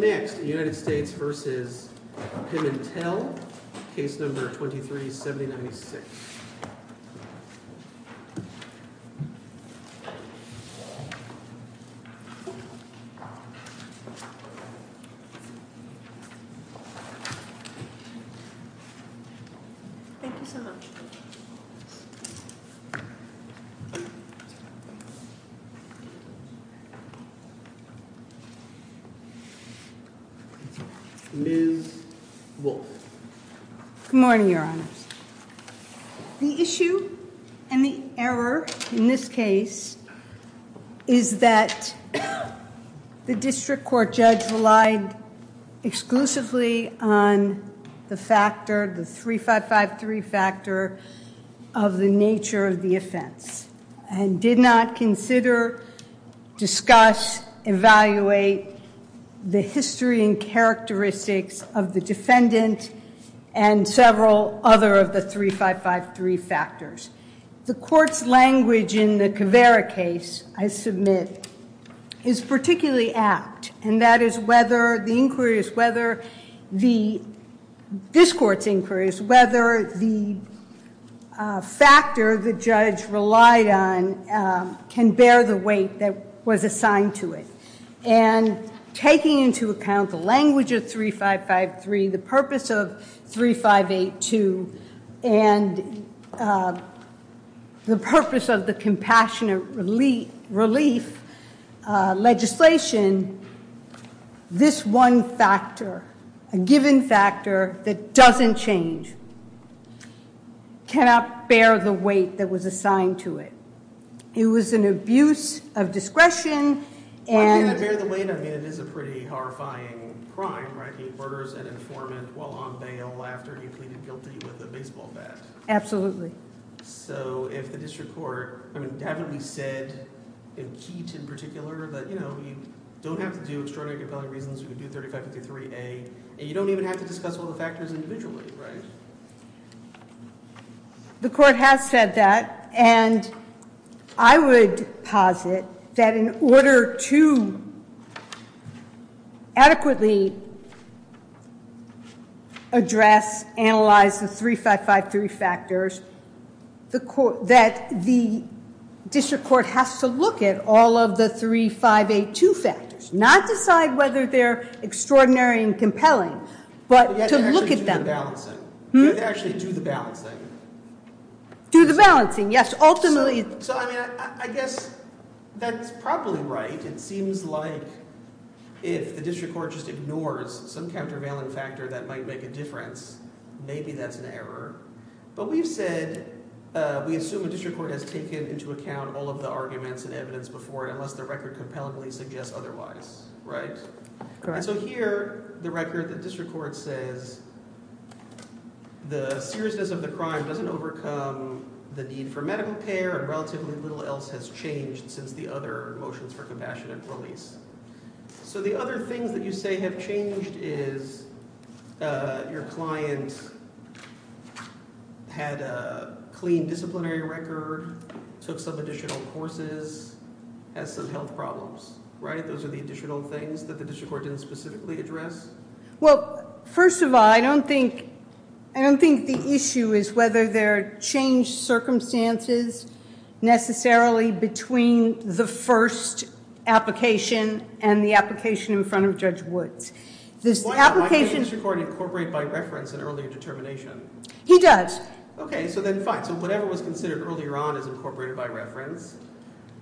Case No. 23-7096 Ms. Wolfe. Good morning, Your Honors. The issue and the error in this case is that the district court judge relied exclusively on the factor, the 3553 factor, of the nature of the offense. And did not consider, discuss, evaluate the history and characteristics of the defendant and several other of the 3553 factors. The court's language in the Caveira case, I submit, is particularly apt. And that is whether the inquiries, whether the, this court's inquiries, whether the factor the judge relied on can bear the weight that was assigned to it. And taking into account the language of 3553, the purpose of 3582, and the purpose of the compassionate relief legislation, this one factor, a given factor that doesn't change, cannot bear the weight that was assigned to it. It was an abuse of discretion and... By being able to bear the weight, I mean, it is a pretty horrifying crime, right? He murders an informant while on bail after he pleaded guilty with a baseball bat. Absolutely. So, if the district court, I mean, haven't we said, in Keat in particular, that, you know, you don't have to do extraordinary compelling reasons, you can do 3553A, and you don't even have to discuss all the factors individually, right? The court has said that, and I would posit that in order to adequately address, analyze the 3553 factors, that the district court has to look at all of the 3582 factors, not decide whether they're extraordinary and compelling, but to look at them. To actually do the balancing. Do the balancing, yes, ultimately. So, I mean, I guess that's probably right. It seems like if the district court just ignores some countervailing factor that might make a difference, maybe that's an error. But we've said, we assume the district court has taken into account all of the arguments and evidence before it, unless the record compellingly suggests otherwise, right? Correct. And so here, the record, the district court says the seriousness of the crime doesn't overcome the need for medical care and relatively little else has changed since the other motions for compassionate release. So the other things that you say have changed is your client had a clean disciplinary record, took some additional courses, has some health problems, right? Those are the additional things that the district court didn't specifically address? Well, first of all, I don't think the issue is whether there are changed circumstances necessarily between the first application and the application in front of Judge Woods. Why can't the district court incorporate by reference an earlier determination? He does. Okay, so then fine. So whatever was considered earlier on is incorporated by reference,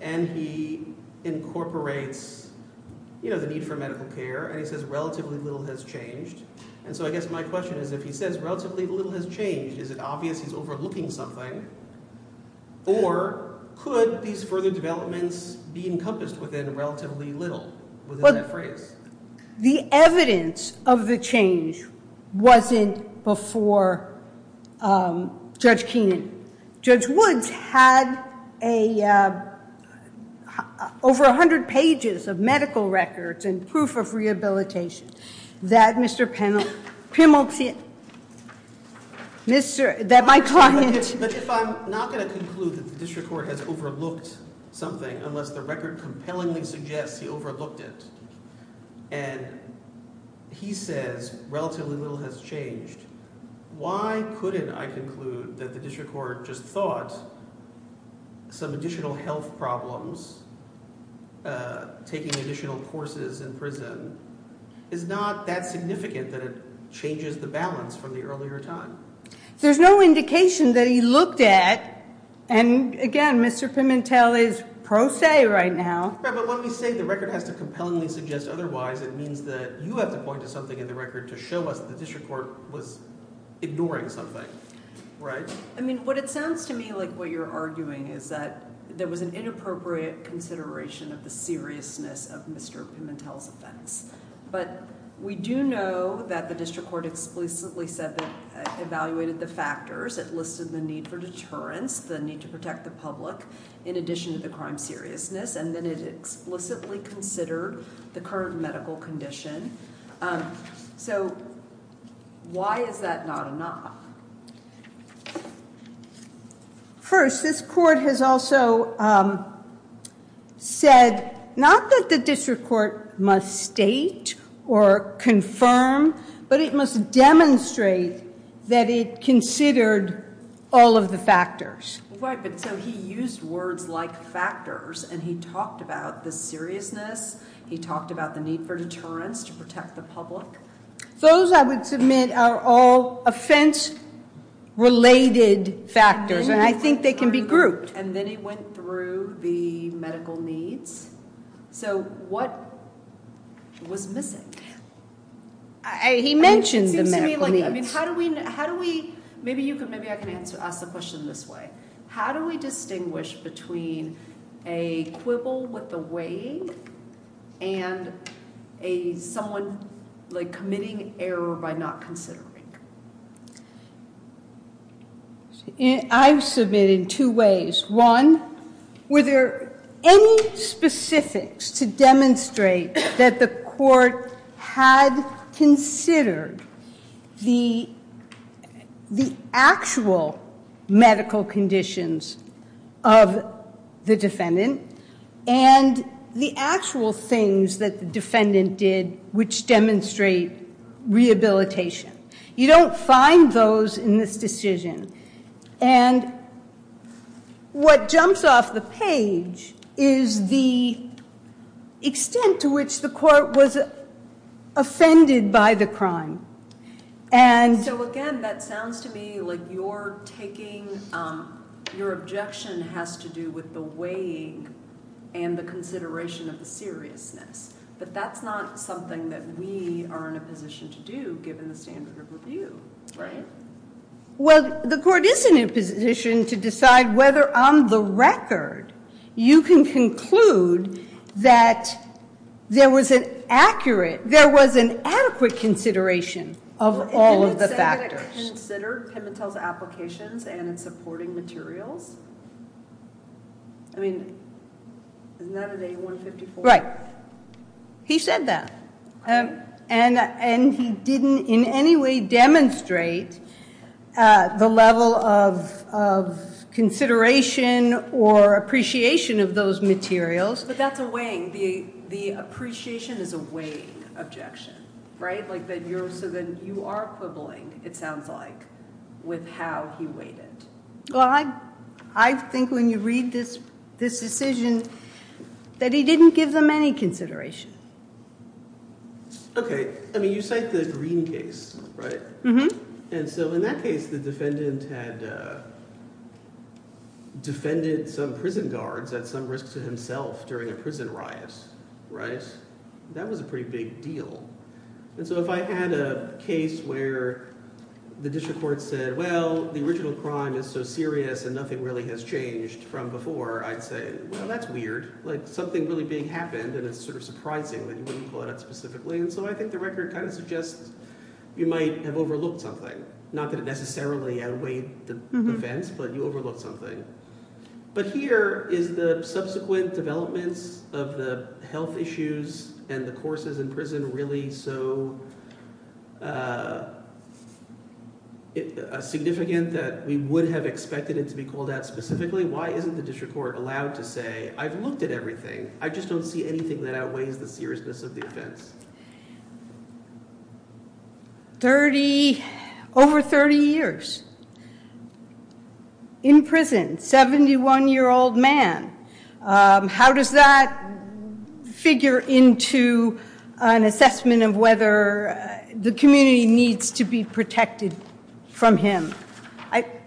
and he incorporates the need for medical care, and he says relatively little has changed. And so I guess my question is if he says relatively little has changed, is it obvious he's overlooking something? Or could these further developments be encompassed within relatively little, within that phrase? The evidence of the change wasn't before Judge Keenan. Judge Woods had over 100 pages of medical records and proof of rehabilitation that Mr. Pimilti, that my client. But if I'm not going to conclude that the district court has overlooked something unless the record compellingly suggests he overlooked it, and he says relatively little has changed, why couldn't I conclude that the district court just thought some additional health problems, taking additional courses in prison, is not that significant that it changes the balance from the earlier time? There's no indication that he looked at, and again, Mr. Pimilti is pro se right now. But when we say the record has to compellingly suggest otherwise, it means that you have to point to something in the record to show us the district court was ignoring something, right? I mean, what it sounds to me like what you're arguing is that there was an inappropriate consideration of the seriousness of Mr. Pimilti's offense. But we do know that the district court explicitly said that evaluated the factors that listed the need for deterrence, the need to protect the public, in addition to the crime seriousness, and then it explicitly considered the current medical condition. So why is that not enough? First, this court has also said not that the district court must state or confirm, but it must demonstrate that it considered all of the factors. Right, but so he used words like factors, and he talked about the seriousness, he talked about the need for deterrence to protect the public. Those, I would submit, are all offense-related factors, and I think they can be grouped. And then he went through the medical needs. So what was missing? He mentioned the medical needs. Maybe I can ask the question this way. How do we distinguish between a quibble with the weighing and someone committing error by not considering? I submit in two ways. One, were there any specifics to demonstrate that the court had considered the actual medical conditions of the defendant and the actual things that the defendant did which demonstrate rehabilitation? You don't find those in this decision. And what jumps off the page is the extent to which the court was offended by the crime. So again, that sounds to me like you're taking your objection has to do with the weighing and the consideration of the seriousness. But that's not something that we are in a position to do given the standard of review, right? Well, the court is in a position to decide whether, on the record, you can conclude that there was an accurate, there was an adequate consideration of all of the factors. Well, didn't it say that it considered Pimentel's applications and its supporting materials? I mean, isn't that at A154? He said that. And he didn't in any way demonstrate the level of consideration or appreciation of those materials. But that's a weighing. The appreciation is a weighing objection, right? So then you are quibbling, it sounds like, with how he weighed it. Well, I think when you read this decision that he didn't give them any consideration. Okay. I mean, you cite the Green case, right? And so in that case, the defendant had defended some prison guards at some risk to himself during a prison riot, right? That was a pretty big deal. And so if I had a case where the district court said, well, the original crime is so serious and nothing really has changed from before, I'd say, well, that's weird. Like something really big happened and it's sort of surprising that you wouldn't call it out specifically. And so I think the record kind of suggests you might have overlooked something. Not that it necessarily outweighed the offense, but you overlooked something. But here, is the subsequent developments of the health issues and the courses in prison really so significant that we would have expected it to be called out specifically? Why isn't the district court allowed to say, I've looked at everything, I just don't see anything that outweighs the seriousness of the offense? Over 30 years in prison, 71-year-old man. How does that figure into an assessment of whether the community needs to be protected from him?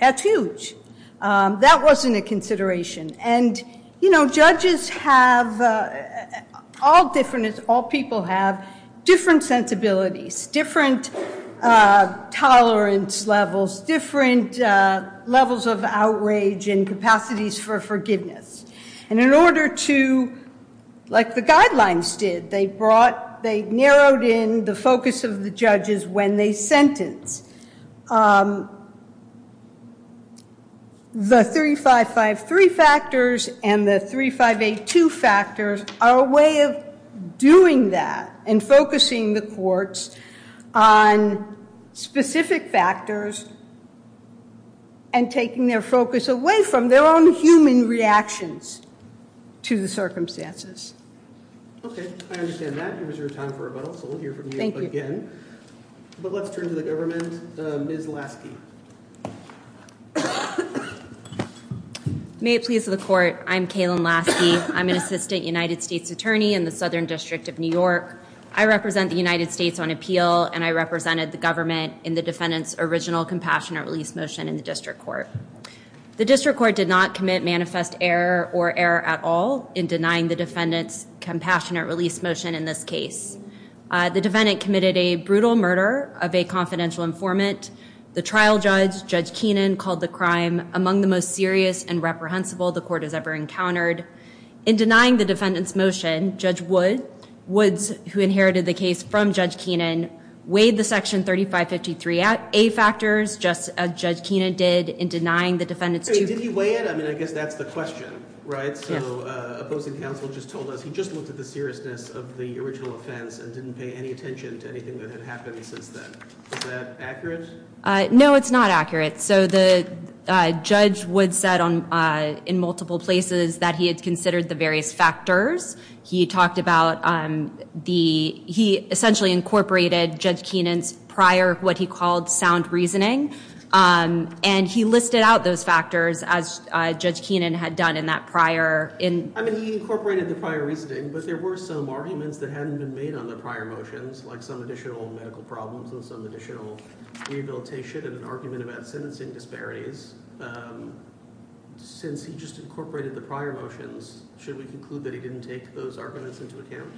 That's huge. That wasn't a consideration. Judges have, all people have, different sensibilities, different tolerance levels, different levels of outrage and capacities for forgiveness. And in order to, like the guidelines did, they narrowed in the focus of the judges when they sentenced. The 3553 factors and the 3582 factors are a way of doing that and focusing the courts on specific factors and taking their focus away from their own human reactions to the circumstances. Okay, I understand that. It was your time for rebuttal, so we'll hear from you again. But let's turn to the government. Ms. Lasky. May it please the court. I'm Kaylin Lasky. I'm an assistant United States attorney in the Southern District of New York. I represent the United States on appeal, and I represented the government in the defendant's original compassionate release motion in the district court. The district court did not commit manifest error or error at all in denying the defendant's compassionate release motion in this case. The defendant committed a brutal murder of a confidential informant. The trial judge, Judge Keenan, called the crime among the most serious and reprehensible the court has ever encountered. In denying the defendant's motion, Judge Woods, who inherited the case from Judge Keenan, weighed the section 3553A factors just as Judge Keenan did in denying the defendant's two- Did he weigh it? I mean, I guess that's the question, right? Yes. So opposing counsel just told us he just looked at the seriousness of the original offense and didn't pay any attention to anything that had happened since then. Is that accurate? No, it's not accurate. So the judge, Woods, said in multiple places that he had considered the various factors. He talked about the- he essentially incorporated Judge Keenan's prior what he called sound reasoning, and he listed out those factors as Judge Keenan had done in that prior- I mean, he incorporated the prior reasoning, but there were some arguments that hadn't been made on the prior motions, like some additional medical problems and some additional rehabilitation and an argument about sentencing disparities. Since he just incorporated the prior motions, should we conclude that he didn't take those arguments into account?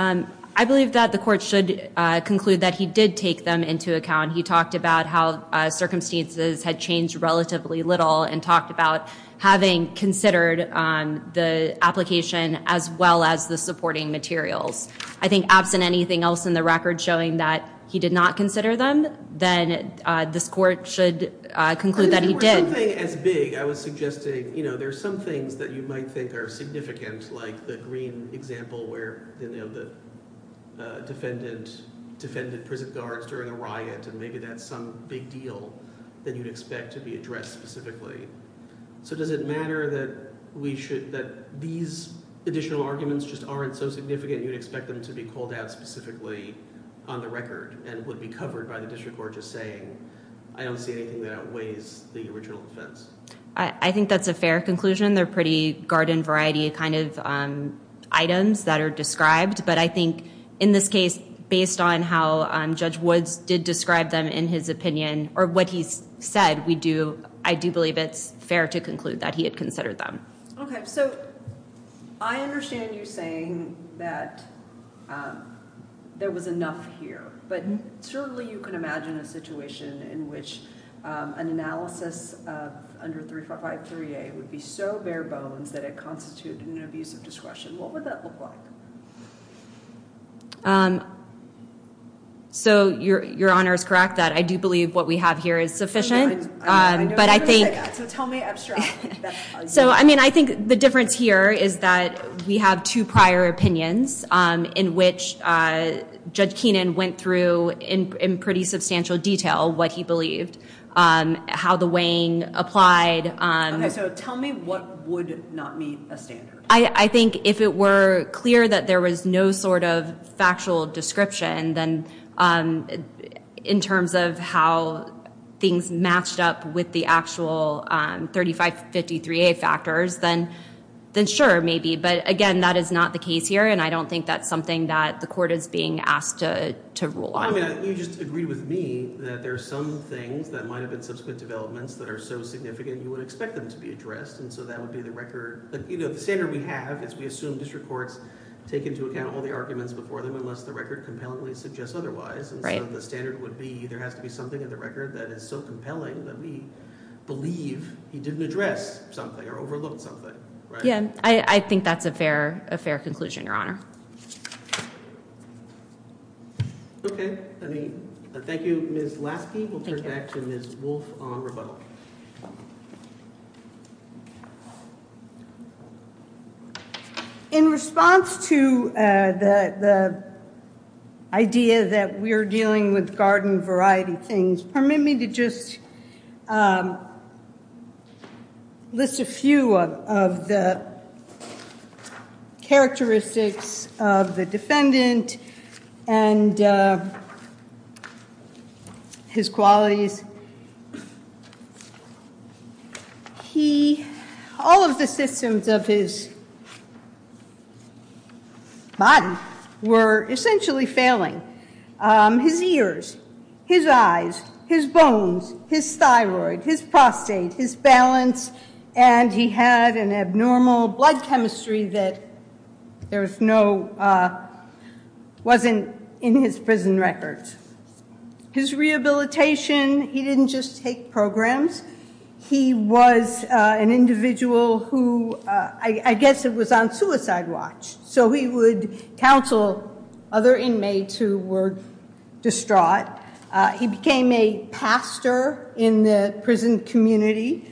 I believe that the court should conclude that he did take them into account. He talked about how circumstances had changed relatively little and talked about having considered the application as well as the supporting materials. I think absent anything else in the record showing that he did not consider them, then this court should conclude that he did. If it were something as big, I was suggesting, you know, there's some things that you might think are significant, like the green example where, you know, the defendant defended prison guards during a riot, and maybe that's some big deal that you'd expect to be addressed specifically. So does it matter that these additional arguments just aren't so significant you'd expect them to be called out specifically on the record and would be covered by the district court just saying, I don't see anything that outweighs the original defense? I think that's a fair conclusion. They're pretty garden variety kind of items that are described. But I think in this case, based on how Judge Woods did describe them in his opinion or what he said, I do believe it's fair to conclude that he had considered them. Okay, so I understand you saying that there was enough here, but certainly you can imagine a situation in which an analysis of under 353A would be so bare bones that it constituted an abuse of discretion. What would that look like? So your honor is correct that I do believe what we have here is sufficient. So tell me abstractly. So I mean, I think the difference here is that we have two prior opinions in which Judge Keenan went through in pretty substantial detail what he believed, how the weighing applied. Okay, so tell me what would not meet a standard. I think if it were clear that there was no sort of factual description, then in terms of how things matched up with the actual 3553A factors, then sure, maybe. But again, that is not the case here, and I don't think that's something that the court is being asked to rule on. I mean, you just agreed with me that there are some things that might have been subsequent developments that are so significant you would expect them to be addressed. And so that would be the record. The standard we have is we assume district courts take into account all the arguments before them unless the record compellingly suggests otherwise. And so the standard would be there has to be something in the record that is so compelling that we believe he didn't address something or overlooked something. Yeah, I think that's a fair conclusion, your honor. Okay, thank you, Ms. Lasky. We'll turn back to Ms. Wolfe on rebuttal. In response to the idea that we're dealing with garden variety things, permit me to just list a few of the characteristics of the defendant and his qualities. All of the systems of his body were essentially failing. His ears, his eyes, his bones, his thyroid, his prostate, his balance, and he had an abnormal blood chemistry that wasn't in his prison records. His rehabilitation, he didn't just take programs. He was an individual who, I guess it was on suicide watch. So he would counsel other inmates who were distraught. He became a pastor in the prison community.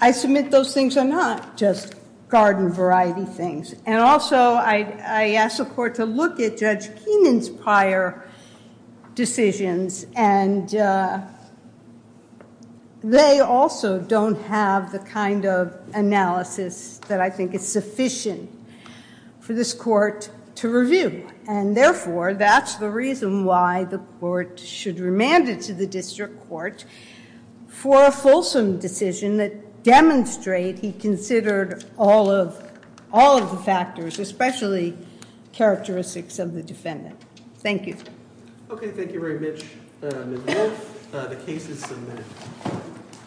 I submit those things are not just garden variety things. And also, I asked the court to look at Judge Keenan's prior decisions. And they also don't have the kind of analysis that I think is sufficient for this court to review. And therefore, that's the reason why the court should remand it to the district court for a fulsome decision that demonstrates he considered all of the factors, especially characteristics of the defendant. Thank you. Okay, thank you very much, Ms. Wolfe. The case is submitted.